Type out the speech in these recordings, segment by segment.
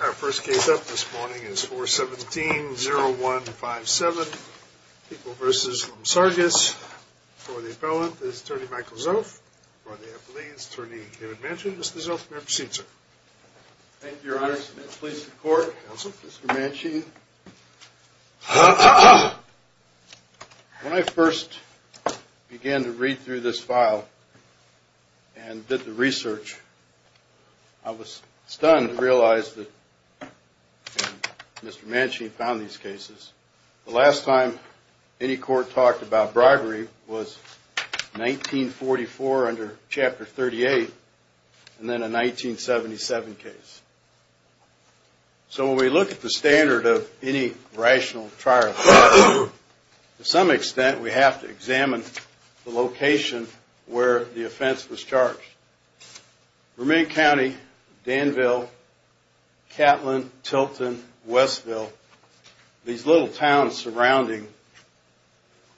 Our first case up this morning is 417-0157, People v. Lumsargis. Before the appellant is Attorney Michael Zoff. Before the appellee is Attorney David Manchin. Mr. Zoff, may I proceed, sir? Thank you, Your Honor. Please, the court. Counsel. Mr. Manchin, when I first began to read through this file and did the research, I was stunned to realize that Mr. Manchin found these cases. The last time any court talked about bribery was 1944 under Chapter 38 and then a 1977 case. So when we look at the standard of any rational trial, to some extent we have to examine the location where the offense was charged. Vermont County, Danville, Catlin, Tilton, Westville. These little towns surrounding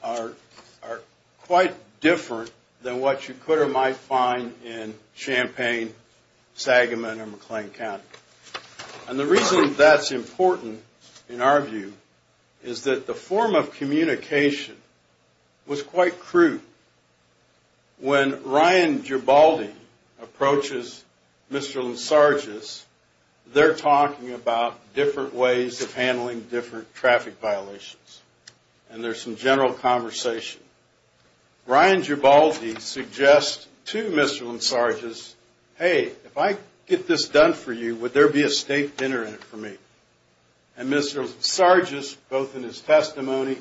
are quite different than what you could or might find in Champaign, Sagamon, or McLean County. And the reason that's important in our view is that the form of communication was quite crude. When Ryan Gibaldi approaches Mr. Lumsargis, they're talking about different ways of handling different traffic violations. And there's some general conversation. Ryan Gibaldi suggests to Mr. Lumsargis, hey, if I get this done for you, would there be a state dinner in it for me? And Mr. Lumsargis, both in his testimony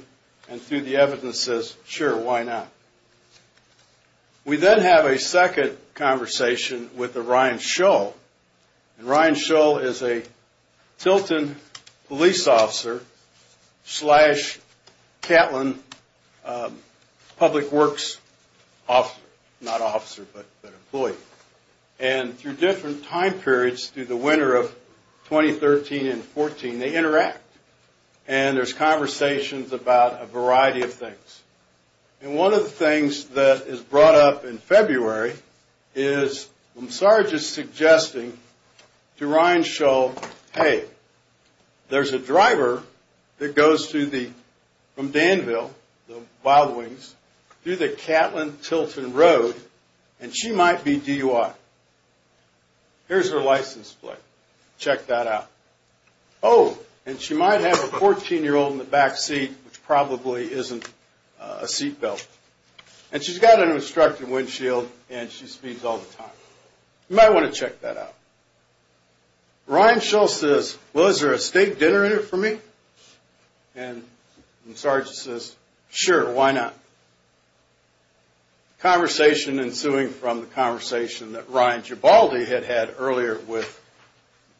and through the evidence, says, sure, why not? We then have a second conversation with Ryan Shull. And Ryan Shull is a Tilton police officer slash Catlin public works officer. Not officer, but employee. And through different time periods, through the winter of 2013 and 2014, they interact. And there's conversations about a variety of things. And one of the things that is brought up in February is Lumsargis suggesting to Ryan Shull, hey, there's a driver that goes from Danville, the Wild Wings, through the Catlin-Tilton Road, and she might be DUI. Here's her license plate. Check that out. Oh, and she might have a 14-year-old in the back seat, which probably isn't a seat belt. And she's got an instructor windshield, and she speeds all the time. You might want to check that out. Ryan Shull says, well, is there a state dinner in it for me? And Lumsargis says, sure, why not? Conversation ensuing from the conversation that Ryan Gibaldi had had earlier with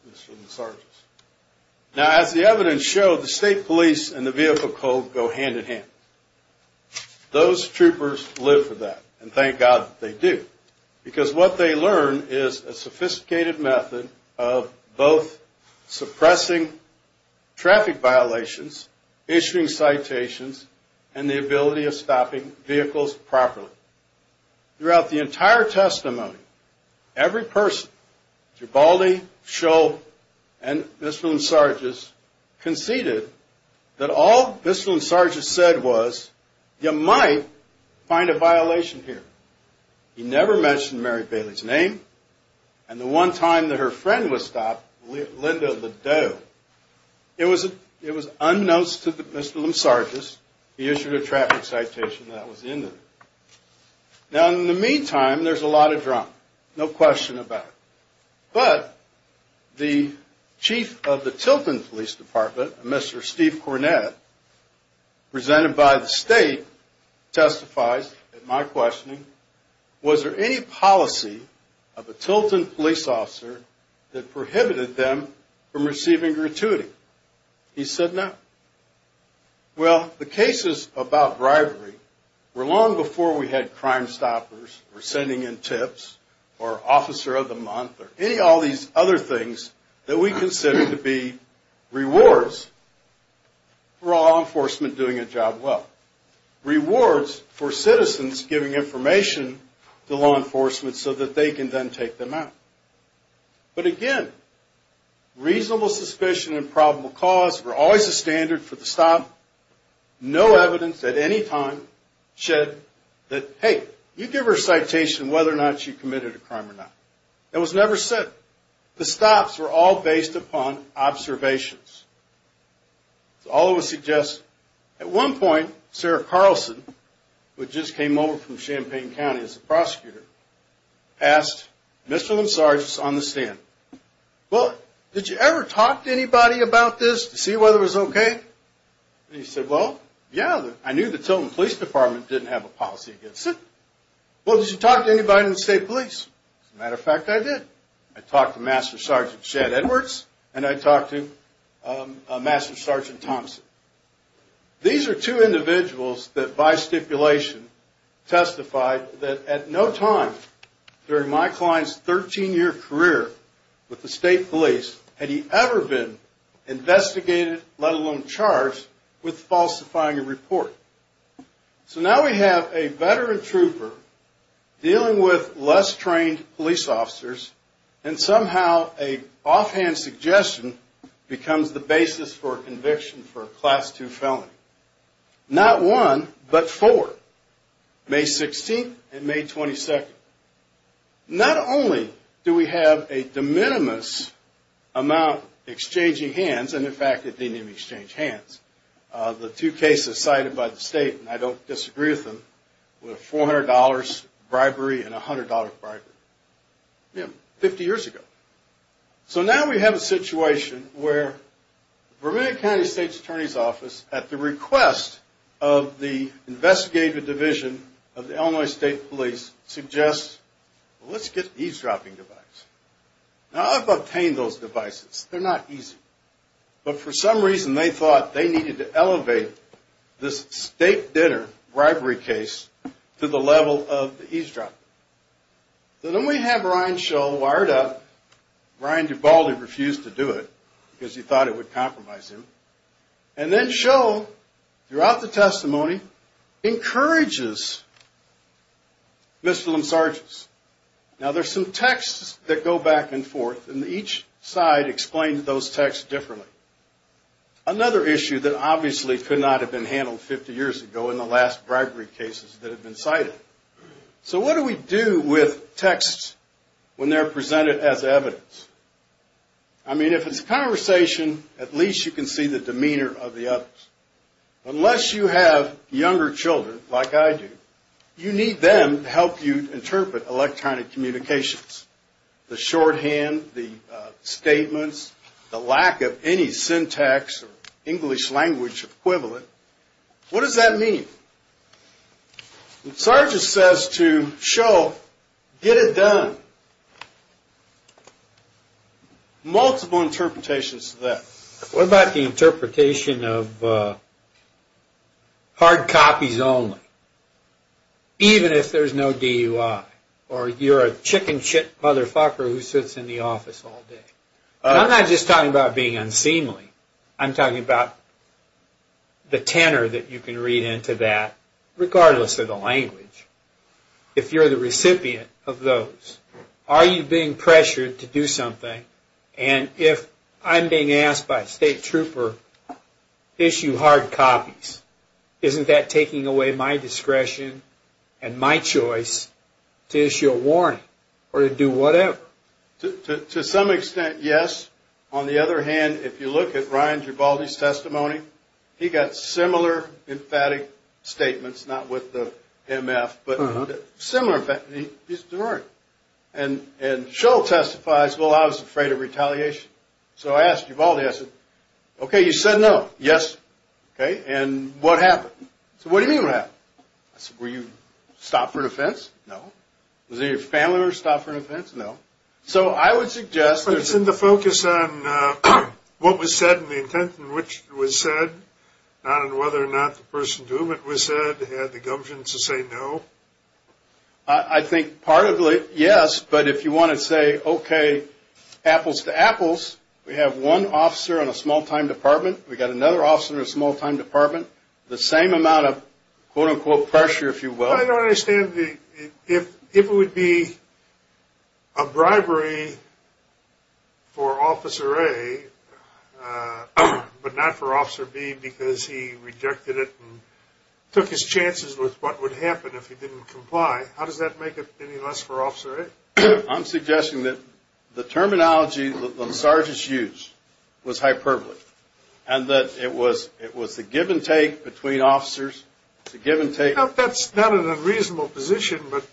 Mr. Lumsargis. Now, as the evidence showed, the state police and the vehicle code go hand in hand. Those troopers live for that. And thank God that they do. Because what they learn is a sophisticated method of both suppressing traffic violations, issuing citations, and the ability of stopping vehicles properly. Throughout the entire testimony, every person, Gibaldi, Shull, and Mr. Lumsargis, conceded that all Mr. Lumsargis said was you might find a violation here. He never mentioned Mary Bailey's name. And the one time that her friend was stopped, Linda Ledoux, it was unnoticed to Mr. Lumsargis. He issued a traffic citation that was in there. Now, in the meantime, there's a lot of drama. No question about it. But the chief of the Tilton Police Department, Mr. Steve Cornett, presented by the state, testifies in my questioning, was there any policy of a Tilton police officer that prohibited them from receiving gratuity? He said no. Well, the cases about bribery were long before we had crime stoppers or sending in tips or officer of the month or any of these other things that we consider to be rewards for law enforcement doing a job well. Rewards for citizens giving information to law enforcement so that they can then take them out. But again, reasonable suspicion and probable cause were always the standard for the stop. No evidence at any time said that, hey, you give her a citation whether or not she committed a crime or not. That was never said. The stops were all based upon observations. So all of this suggests at one point, Sarah Carlson, who had just came over from Champaign County as a prosecutor, asked Mr. Linsarge on the stand, well, did you ever talk to anybody about this to see whether it was okay? And he said, well, yeah. I knew the Tilton Police Department didn't have a policy against it. Well, did you talk to anybody in the state police? As a matter of fact, I did. I talked to Master Sergeant Chad Edwards and I talked to Master Sergeant Thompson. These are two individuals that by stipulation testified that at no time during my client's 13-year career with the state police had he ever been investigated, let alone charged, with falsifying a report. So now we have a veteran trooper dealing with less trained police officers and somehow an offhand suggestion becomes the basis for a conviction for a Class II felony. Not one, but four. May 16th and May 22nd. Not only do we have a de minimis amount exchanging hands, and in fact, it didn't even exchange hands. The two cases cited by the state, and I don't disagree with them, were $400 bribery and $100 bribery. Yeah, 50 years ago. So now we have a situation where the Vermont County State's Attorney's Office, at the request of the investigative division of the Illinois State Police, suggests, well, let's get an eavesdropping device. Now, I've obtained those devices. They're not easy. But for some reason, they thought they needed to elevate this state dinner bribery case to the level of the eavesdropping. So then we have Ryan Shull wired up. Ryan Duvaldi refused to do it because he thought it would compromise him. And then Shull, throughout the testimony, encourages Mr. Lim Sargis. Now, there's some texts that go back and forth, and each side explains those texts differently. Another issue that obviously could not have been handled 50 years ago in the last bribery cases that have been cited. So what do we do with texts when they're presented as evidence? I mean, if it's conversation, at least you can see the demeanor of the others. Unless you have younger children, like I do, you need them to help you interpret electronic communications. The shorthand, the statements, the lack of any syntax or English language equivalent. What does that mean? Sargis says to Shull, get it done. Multiple interpretations of that. What about the interpretation of hard copies only, even if there's no DUI? Or you're a chicken shit motherfucker who sits in the office all day. I'm not just talking about being unseemly. I'm talking about the tenor that you can read into that, regardless of the language. If you're the recipient of those, are you being pressured to do something? And if I'm being asked by a state trooper to issue hard copies, isn't that taking away my discretion and my choice to issue a warning or to do whatever? To some extent, yes. On the other hand, if you look at Ryan Gibaldi's testimony, he got similar emphatic statements. Not with the MF, but similar. And Shull testifies, well, I was afraid of retaliation. So I asked Gibaldi, I said, okay, you said no. Yes. Okay. And what happened? I said, what do you mean what happened? I said, were you stopped for an offense? No. Was any of your family members stopped for an offense? No. So I would suggest. It's in the focus on what was said and the intent in which it was said, not on whether or not the person to whom it was said had the gumption to say no. I think part of it, yes, but if you want to say, okay, apples to apples, we have one officer in a small-time department, we've got another officer in a small-time department, the same amount of, quote, unquote, pressure, if you will. I don't understand if it would be a bribery for Officer A, but not for Officer B because he rejected it and took his chances with what would happen if he didn't comply. How does that make it any less for Officer A? I'm suggesting that the terminology the sergeants used was hyperbole and that it was the give and take between officers, the give and take. That's not an unreasonable position, but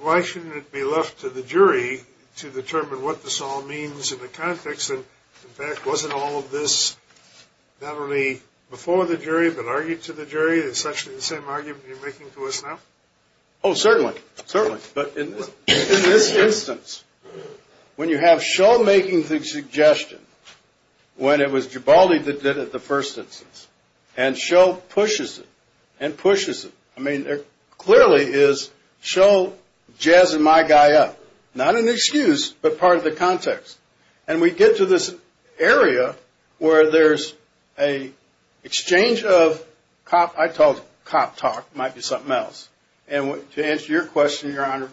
why shouldn't it be left to the jury to determine what this all means in the context? In fact, wasn't all of this not only before the jury but argued to the jury? It's actually the same argument you're making to us now? Oh, certainly. Certainly. But in this instance, when you have Shull making the suggestion when it was Gibaldi that did it the first instance, and Shull pushes it and pushes it, I mean, it clearly is Shull jazzing my guy up, not an excuse but part of the context. And we get to this area where there's an exchange of cop, I call it cop talk. It might be something else. And to answer your question, Your Honor,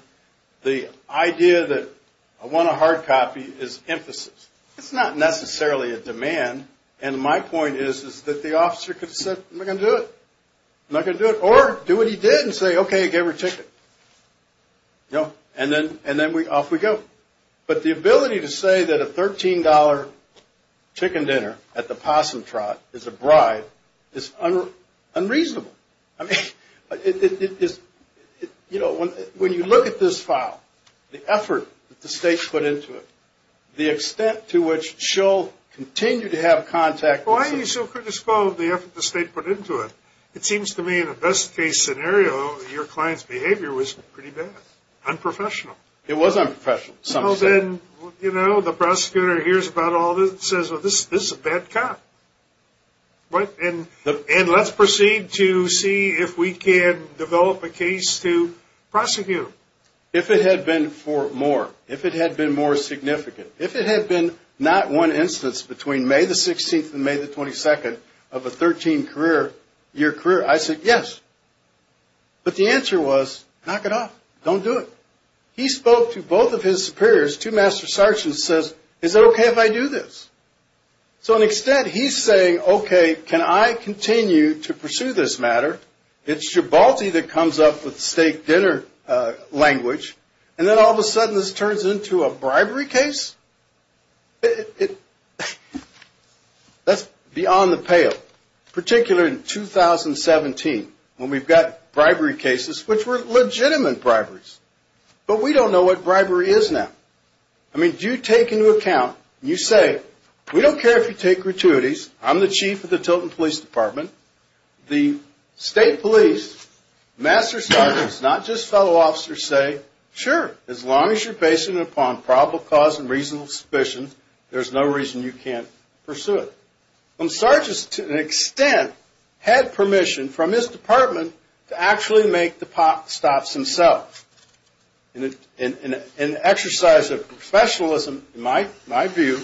the idea that I want a hard copy is emphasis. It's not necessarily a demand, and my point is that the officer could have said, I'm not going to do it. I'm not going to do it. Or do what he did and say, okay, I gave her a ticket. And then off we go. But the ability to say that a $13 chicken dinner at the Possum Trot is a bribe is unreasonable. I mean, it is, you know, when you look at this file, the effort that the state put into it, the extent to which Shull continued to have contact. Why are you so critical of the effort the state put into it? It seems to me in a best-case scenario, your client's behavior was pretty bad, unprofessional. It was unprofessional. Well, then, you know, the prosecutor hears about all this and says, well, this is a bad cop. And let's proceed to see if we can develop a case to prosecute. If it had been for more, if it had been more significant, if it had been not one instance between May the 16th and May the 22nd of a 13-year career, I said yes. But the answer was, knock it off. Don't do it. He spoke to both of his superiors, two master sergeants, and says, is it okay if I do this? So to an extent, he's saying, okay, can I continue to pursue this matter? It's Gibalti that comes up with steak dinner language. And then all of a sudden this turns into a bribery case? That's beyond the pale, particularly in 2017 when we've got bribery cases which were legitimate briberies. But we don't know what bribery is now. I mean, do you take into account, you say, we don't care if you take gratuities. I'm the chief of the Tilton Police Department. The state police, master sergeants, not just fellow officers say, sure, as long as you're based upon probable cause and reasonable suspicion, there's no reason you can't pursue it. And sergeants, to an extent, had permission from his department to actually make the stops themselves. In an exercise of professionalism, in my view,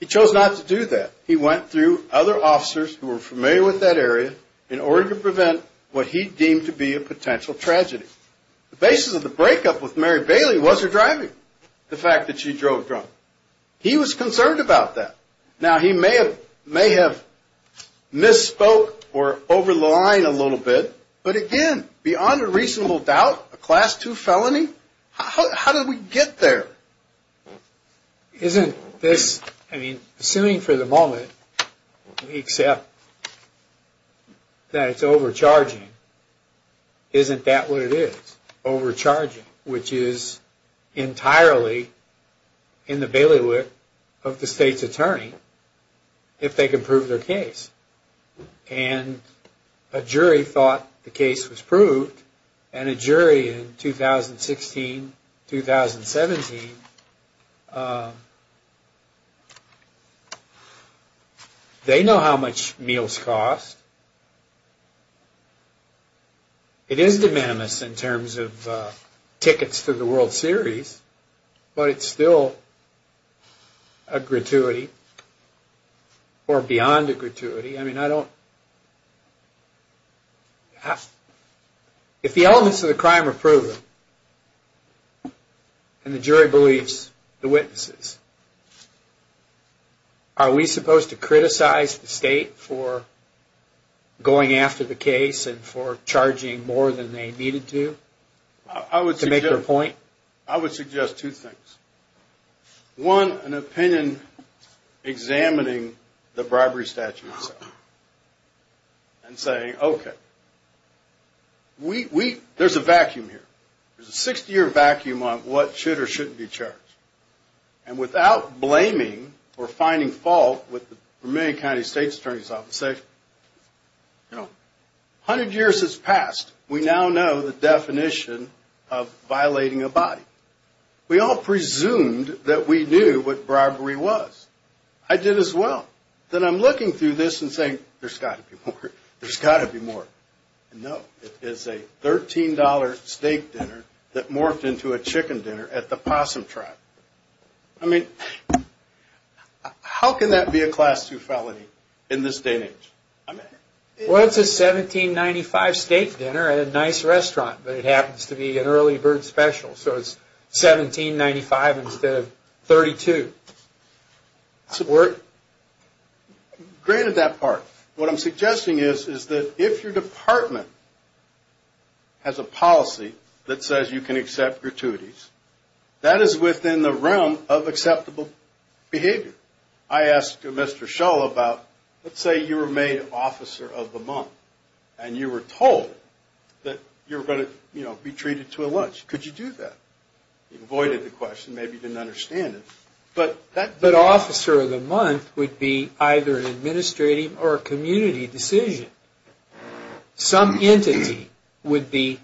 he chose not to do that. He went through other officers who were familiar with that area in order to prevent what he deemed to be a potential tragedy. The basis of the breakup with Mary Bailey was her driving, the fact that she drove drunk. He was concerned about that. Now, he may have misspoke or over-lined a little bit. But again, beyond a reasonable doubt, a Class 2 felony? How did we get there? Assuming for the moment we accept that it's overcharging, isn't that what it is? Overcharging, which is entirely in the bailiwick of the state's attorney, if they can prove their case. And a jury thought the case was proved. And a jury in 2016, 2017, they know how much meals cost. It is de minimis in terms of tickets to the World Series. But it's still a gratuity, or beyond a gratuity. I mean, I don't... If the elements of the crime are proven, and the jury believes the witnesses, are we supposed to criticize the state for going after the case and for charging more than they needed to? To make their point? I would suggest two things. One, an opinion examining the bribery statute itself. And saying, okay, there's a vacuum here. There's a 60-year vacuum on what should or shouldn't be charged. And without blaming or finding fault with the Romanian County State's Attorney's Office, say, you know, 100 years has passed. We now know the definition of violating a body. We all presumed that we knew what bribery was. I did as well. Then I'm looking through this and saying, there's got to be more. There's got to be more. No. It is a $13 steak dinner that morphed into a chicken dinner at the Possum Tribe. I mean, how can that be a Class II felony in this day and age? Well, it's a $17.95 steak dinner at a nice restaurant. But it happens to be an early bird special. So it's $17.95 instead of $32. Granted that part. What I'm suggesting is that if your department has a policy that says you can accept gratuities, that is within the realm of acceptable behavior. I asked Mr. Shull about, let's say you were made Officer of the Month, and you were told that you were going to be treated to a lunch. Could you do that? He avoided the question. Maybe he didn't understand it. But Officer of the Month would be either an administrative or a community decision. Some entity would be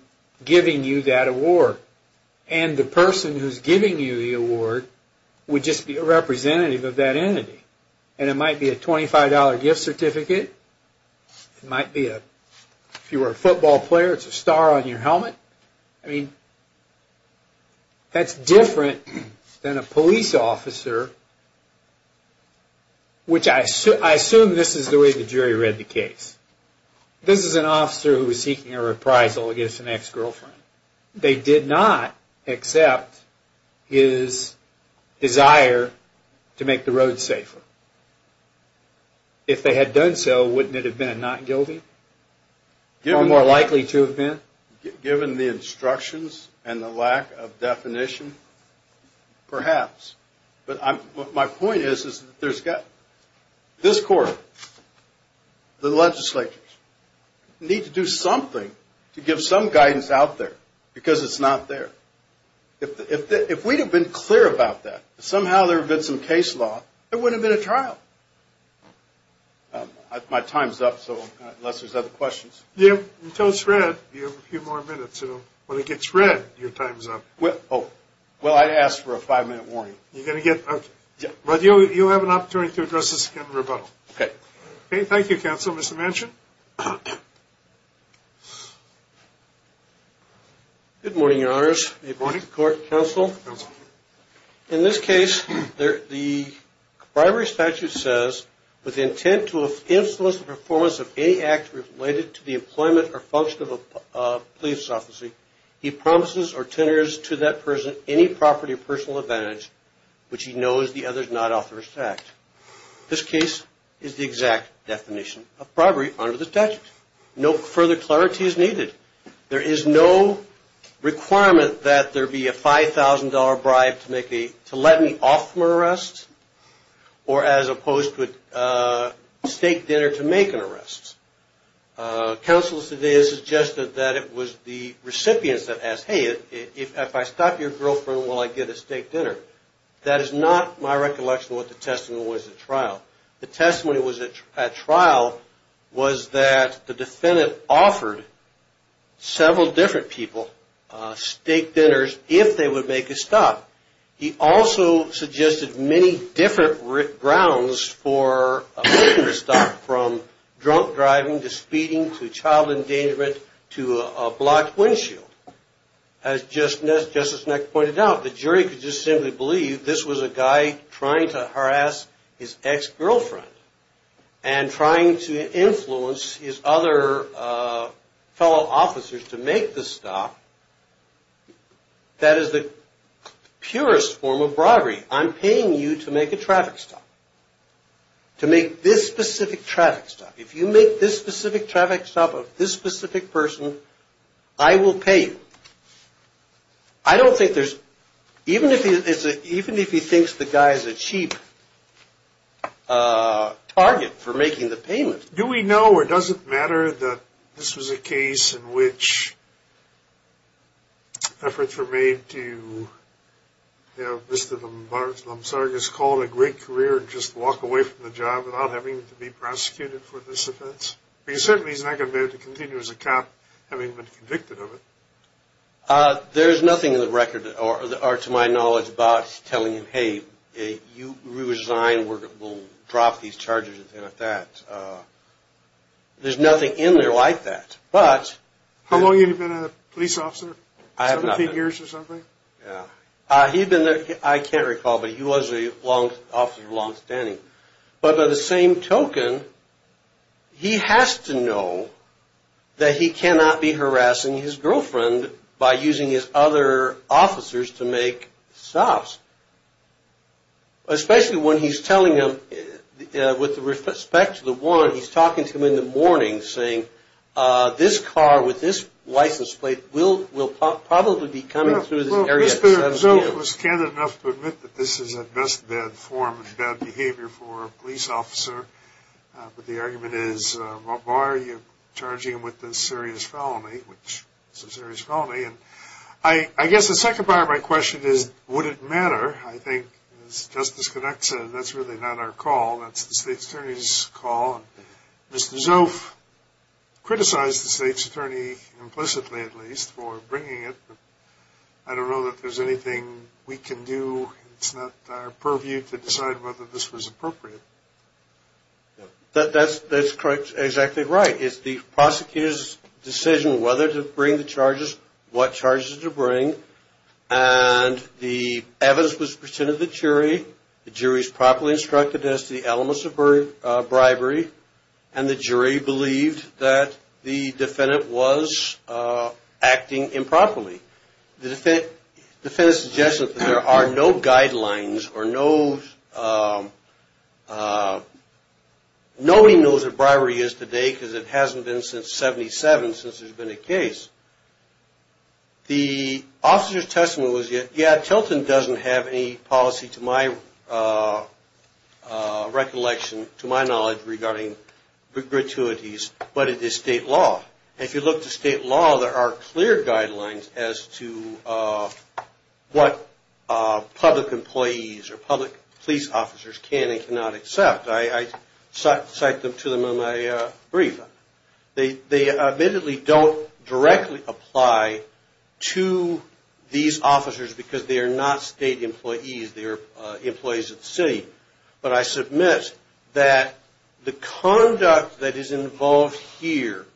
giving you that award. And the person who's giving you the award would just be a representative of that entity. And it might be a $25 gift certificate. It might be, if you were a football player, it's a star on your helmet. I mean, that's different than a police officer, which I assume this is the way the jury read the case. This is an officer who was seeking a reprisal against an ex-girlfriend. They did not accept his desire to make the road safer. If they had done so, wouldn't it have been a not guilty? Or more likely to have been? Given the instructions and the lack of definition, perhaps. But my point is, this Court, the legislatures, need to do something to give some guidance out there. Because it's not there. If we'd have been clear about that, somehow there would have been some case law, there wouldn't have been a trial. My time's up, unless there's other questions. Yeah, until it's read, you have a few more minutes. When it gets read, your time's up. Well, I asked for a five-minute warning. You have an opportunity to address this again in rebuttal. Okay. Thank you, Counsel. Mr. Manchin? Good morning, Your Honors. Good morning. Court, Counsel. Counsel. In this case, the bribery statute says, with the intent to influence the performance of any act related to the employment or function of a police officer, he promises or tenors to that person any property or personal advantage which he knows the other's not authorized to act. This case is the exact definition of bribery under the statute. No further clarity is needed. There is no requirement that there be a $5,000 bribe to let me off from an arrest, or as opposed to a steak dinner to make an arrest. Counsel's suggested that it was the recipients that asked, hey, if I stop your girlfriend, will I get a steak dinner? That is not my recollection of what the testimony was at trial. The testimony was at trial was that the defendant offered several different people steak dinners if they would make a stop. He also suggested many different grounds for making a stop, from drunk driving to speeding to child endangerment to a blocked windshield. As Justice Neck pointed out, the jury could just simply believe this was a guy trying to harass his ex-girlfriend and trying to influence his other fellow officers to make the stop. That is the purest form of bribery. I'm paying you to make a traffic stop, to make this specific traffic stop. If you make this specific traffic stop of this specific person, I will pay you. I don't think there's – even if he thinks the guy is a cheap target for making the payment. Do we know or does it matter that this was a case in which efforts were made to have Mr. Lomzargas call it a great career and just walk away from the job without having to be prosecuted for this offense? He certainly is not going to be able to continue as a cop having been convicted of it. There's nothing in the record or to my knowledge about telling him, hey, you resign, we'll drop these charges and things like that. There's nothing in there like that. But – How long have you been a police officer? I have not been. 17 years or something? Yeah. He's been there – I can't recall, but he was a long – officer of longstanding. But by the same token, he has to know that he cannot be harassing his girlfriend by using his other officers to make stops. Especially when he's telling them – with respect to the warrant, he's talking to them in the morning saying, this car with this license plate will probably be coming through this area. Well, Mr. Zoff was candid enough to admit that this is at best bad form and bad behavior for a police officer. But the argument is, why are you charging him with this serious felony, which is a serious felony? And I guess the second part of my question is, would it matter? I think, as Justice Connacht said, that's really not our call. That's the State's Attorney's call. Mr. Zoff criticized the State's Attorney implicitly, at least, for bringing it. But I don't know that there's anything we can do. It's not our purview to decide whether this was appropriate. That's exactly right. It's the prosecutor's decision whether to bring the charges, what charges to bring. And the evidence was presented to the jury. The jury's properly instructed as to the elements of bribery. And the jury believed that the defendant was acting improperly. The defendant's suggestion that there are no guidelines or no – nobody knows what bribery is today because it hasn't been since 77 since there's been a case. The officer's testimony was, yeah, Tilton doesn't have any policy, to my recollection, to my knowledge, regarding gratuities, but it is state law. And if you look to state law, there are clear guidelines as to what public employees or public police officers can and cannot accept. I cite them to them in my brief. They admittedly don't directly apply to these officers because they are not state employees. They are employees of the city. But I submit that the conduct that is involved here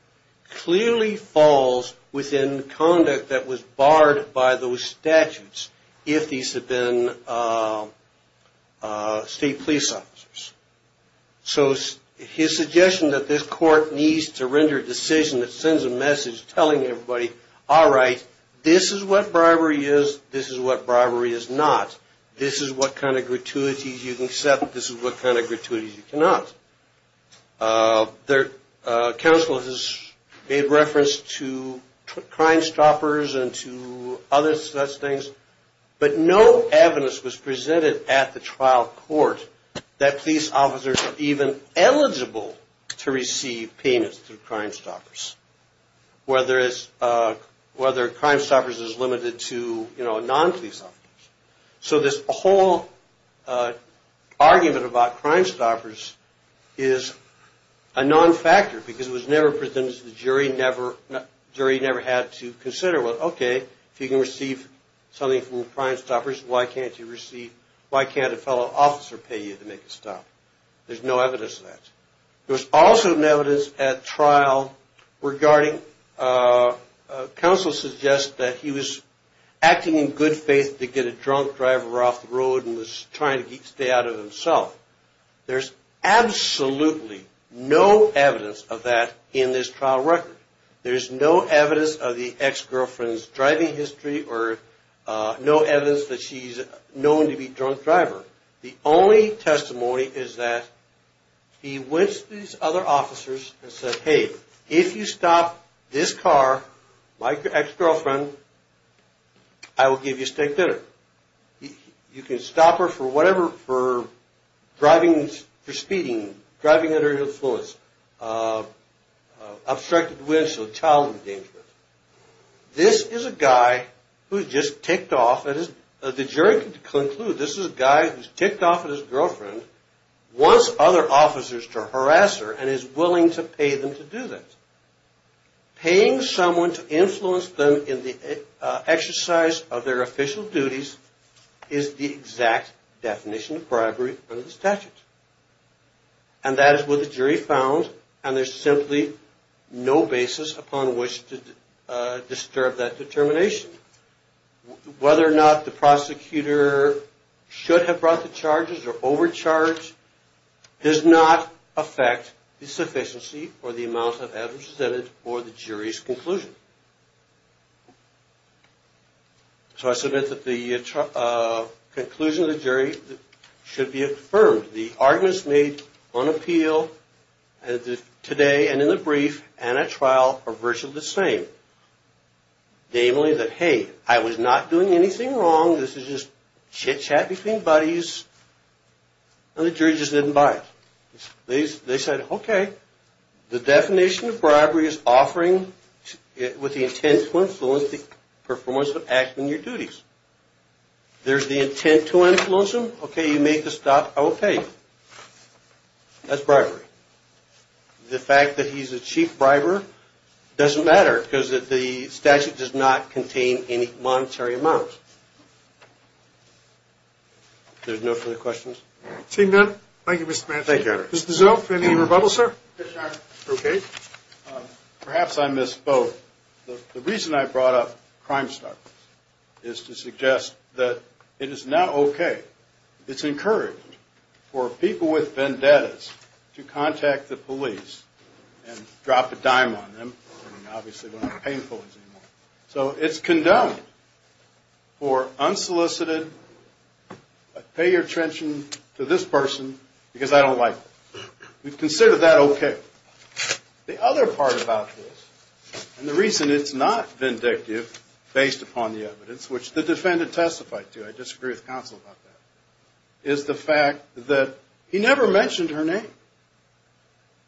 clearly falls within conduct that was barred by those statutes if these had been state police officers. So his suggestion that this court needs to render a decision that sends a message telling everybody, all right, this is what bribery is. This is what bribery is not. This is what kind of gratuities you can accept. This is what kind of gratuities you cannot. Counsel has made reference to Crime Stoppers and to other such things. But no evidence was presented at the trial court that police officers are even eligible to receive payments through Crime Stoppers, whether Crime Stoppers is limited to, you know, non-police officers. So this whole argument about Crime Stoppers is a non-factor because it was never presented to the jury. The jury never had to consider, well, okay, if you can receive something from Crime Stoppers, why can't you receive, why can't a fellow officer pay you to make a stop? There's no evidence of that. There was also no evidence at trial regarding, counsel suggests that he was acting in good faith to get a drunk driver off the road and was trying to stay out of himself. There's absolutely no evidence of that in this trial record. There's no evidence of the ex-girlfriend's driving history or no evidence that she's known to be a drunk driver. The only testimony is that he went to these other officers and said, hey, if you stop this car, my ex-girlfriend, I will give you steak dinner. You can stop her for whatever, for driving, for speeding, driving under her influence, obstructed winds, or child endangerment. This is a guy who's just ticked off. The jury can conclude this is a guy who's ticked off his girlfriend, wants other officers to harass her, and is willing to pay them to do that. Paying someone to influence them in the exercise of their official duties is the exact definition of bribery under the statute. And that is what the jury found, and there's simply no basis upon which to disturb that determination. Whether or not the prosecutor should have brought the charges or overcharged does not affect the sufficiency or the amount of evidence presented for the jury's conclusion. So I submit that the conclusion of the jury should be affirmed. The arguments made on appeal today and in the brief and at trial are virtually the same. Namely that, hey, I was not doing anything wrong. This is just chitchat between buddies, and the jury just didn't buy it. They said, okay, the definition of bribery is offering with the intent to influence the performance of acting your duties. There's the intent to influence them. Okay, you make the stop, I will pay you. That's bribery. The fact that he's a cheap briber doesn't matter because the statute does not contain any monetary amounts. There's no further questions? Seeing none, thank you, Mr. Manson. Thank you. Mr. Zilf, any rebuttals, sir? Yes, Your Honor. Okay. Perhaps I missed both. The reason I brought up Crimestoppers is to suggest that it is not okay. It's encouraged for people with vendettas to contact the police and drop a dime on them, and obviously they're not painful anymore. So it's condemned for unsolicited, pay your attention to this person because I don't like them. We've considered that okay. The other part about this, and the reason it's not vindictive based upon the evidence, which the defendant testified to, I disagree with counsel about that, is the fact that he never mentioned her name.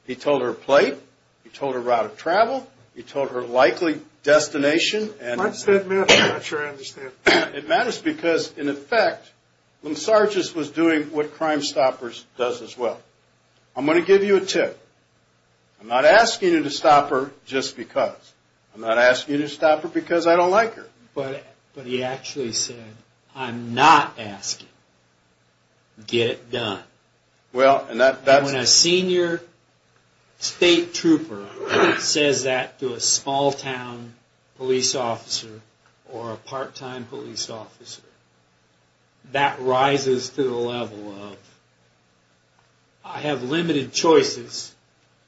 He told her plate. He told her route of travel. He told her likely destination. Why does that matter? I'm not sure I understand. It matters because, in effect, Linsardius was doing what Crimestoppers does as well. I'm going to give you a tip. I'm not asking you to stop her just because. I'm not asking you to stop her because I don't like her. But he actually said, I'm not asking. Get it done. When a senior state trooper says that to a small-town police officer or a part-time police officer, that rises to the level of, I have limited choices,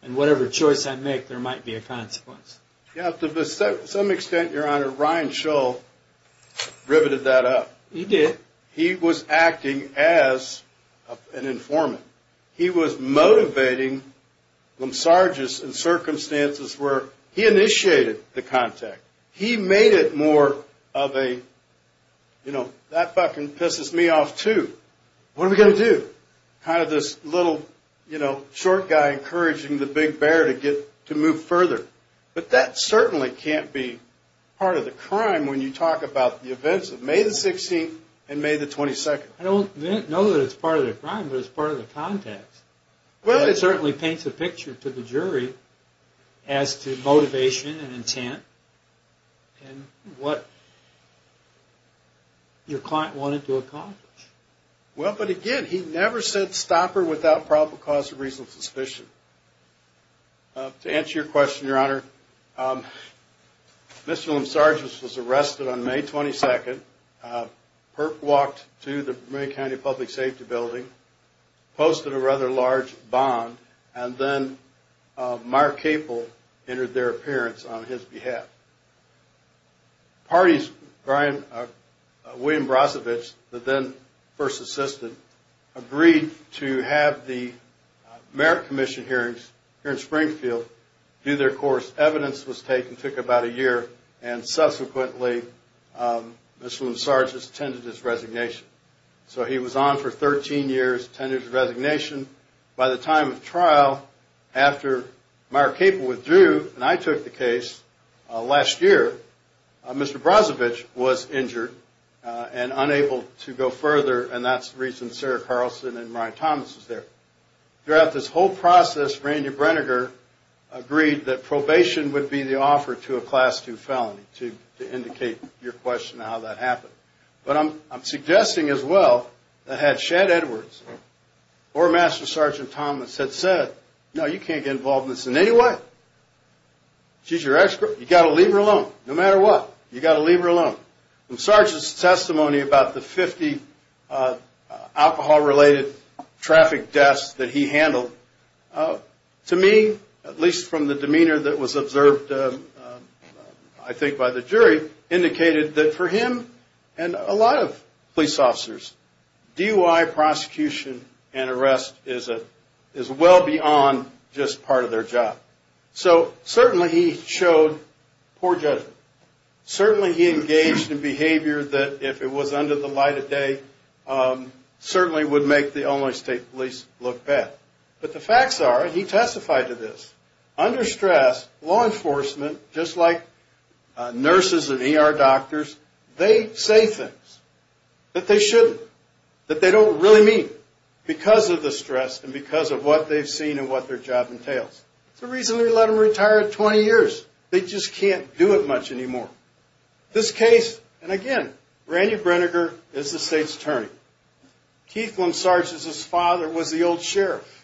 and whatever choice I make, there might be a consequence. To some extent, Your Honor, Ryan Shull riveted that up. He did. He was acting as an informant. He was motivating Linsardius in circumstances where he initiated the contact. He made it more of a, you know, that fucking pisses me off too. What are we going to do? Kind of this little, you know, short guy encouraging the big bear to move further. But that certainly can't be part of the crime when you talk about the events of May the 16th and May the 22nd. I don't know that it's part of the crime, but it's part of the context. Well, it certainly paints a picture to the jury as to motivation and intent and what your client wanted to accomplish. Well, but again, he never said stop her without probable cause of reasonable suspicion. To answer your question, Your Honor, Mr. Linsardius was arrested on May 22nd, perp walked to the Bermuda County Public Safety Building, posted a rather large bond, and then Meyer Capel entered their appearance on his behalf. Parties, William Brosevich, the then first assistant, agreed to have the Merritt Commission hearings here in Springfield do their course. Evidence was taken, took about a year, and subsequently Mr. Linsardius attended his resignation. So he was on for 13 years, attended his resignation. By the time of trial, after Meyer Capel withdrew, and I took the case last year, Mr. Brosevich was injured and unable to go further, and that's the reason Sarah Carlson and Ryan Thomas was there. Throughout this whole process, Rainier Brenegar agreed that probation would be the offer to a Class II felony, to indicate your question on how that happened. But I'm suggesting as well that had Shad Edwards or Master Sergeant Thomas had said, no, you can't get involved in this in any way. She's your ex-girlfriend. You've got to leave her alone, no matter what. You've got to leave her alone. From Sergeant's testimony about the 50 alcohol-related traffic deaths that he handled, to me, at least from the demeanor that was observed, I think, by the jury, indicated that for him and a lot of police officers, DUI prosecution and arrest is well beyond just part of their job. So certainly he showed poor judgment. Certainly he engaged in behavior that, if it was under the light of day, certainly would make the Illinois State Police look bad. But the facts are, he testified to this. Under stress, law enforcement, just like nurses and ER doctors, they say things that they shouldn't, that they don't really mean, because of the stress and because of what they've seen and what their job entails. It's the reason we let them retire at 20 years. They just can't do it much anymore. This case, and again, Rainier Brenegar is the state's attorney. Keith Lynn Sargent's father was the old sheriff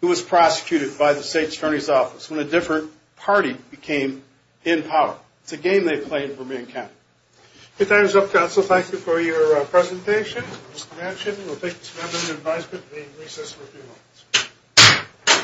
who was prosecuted by the state's attorney's office when a different party became in power. It's a game they played for me and Ken. If that is up, counsel, thank you for your presentation. Mr. Manchin, we'll take this matter into advisement. We recess for a few moments.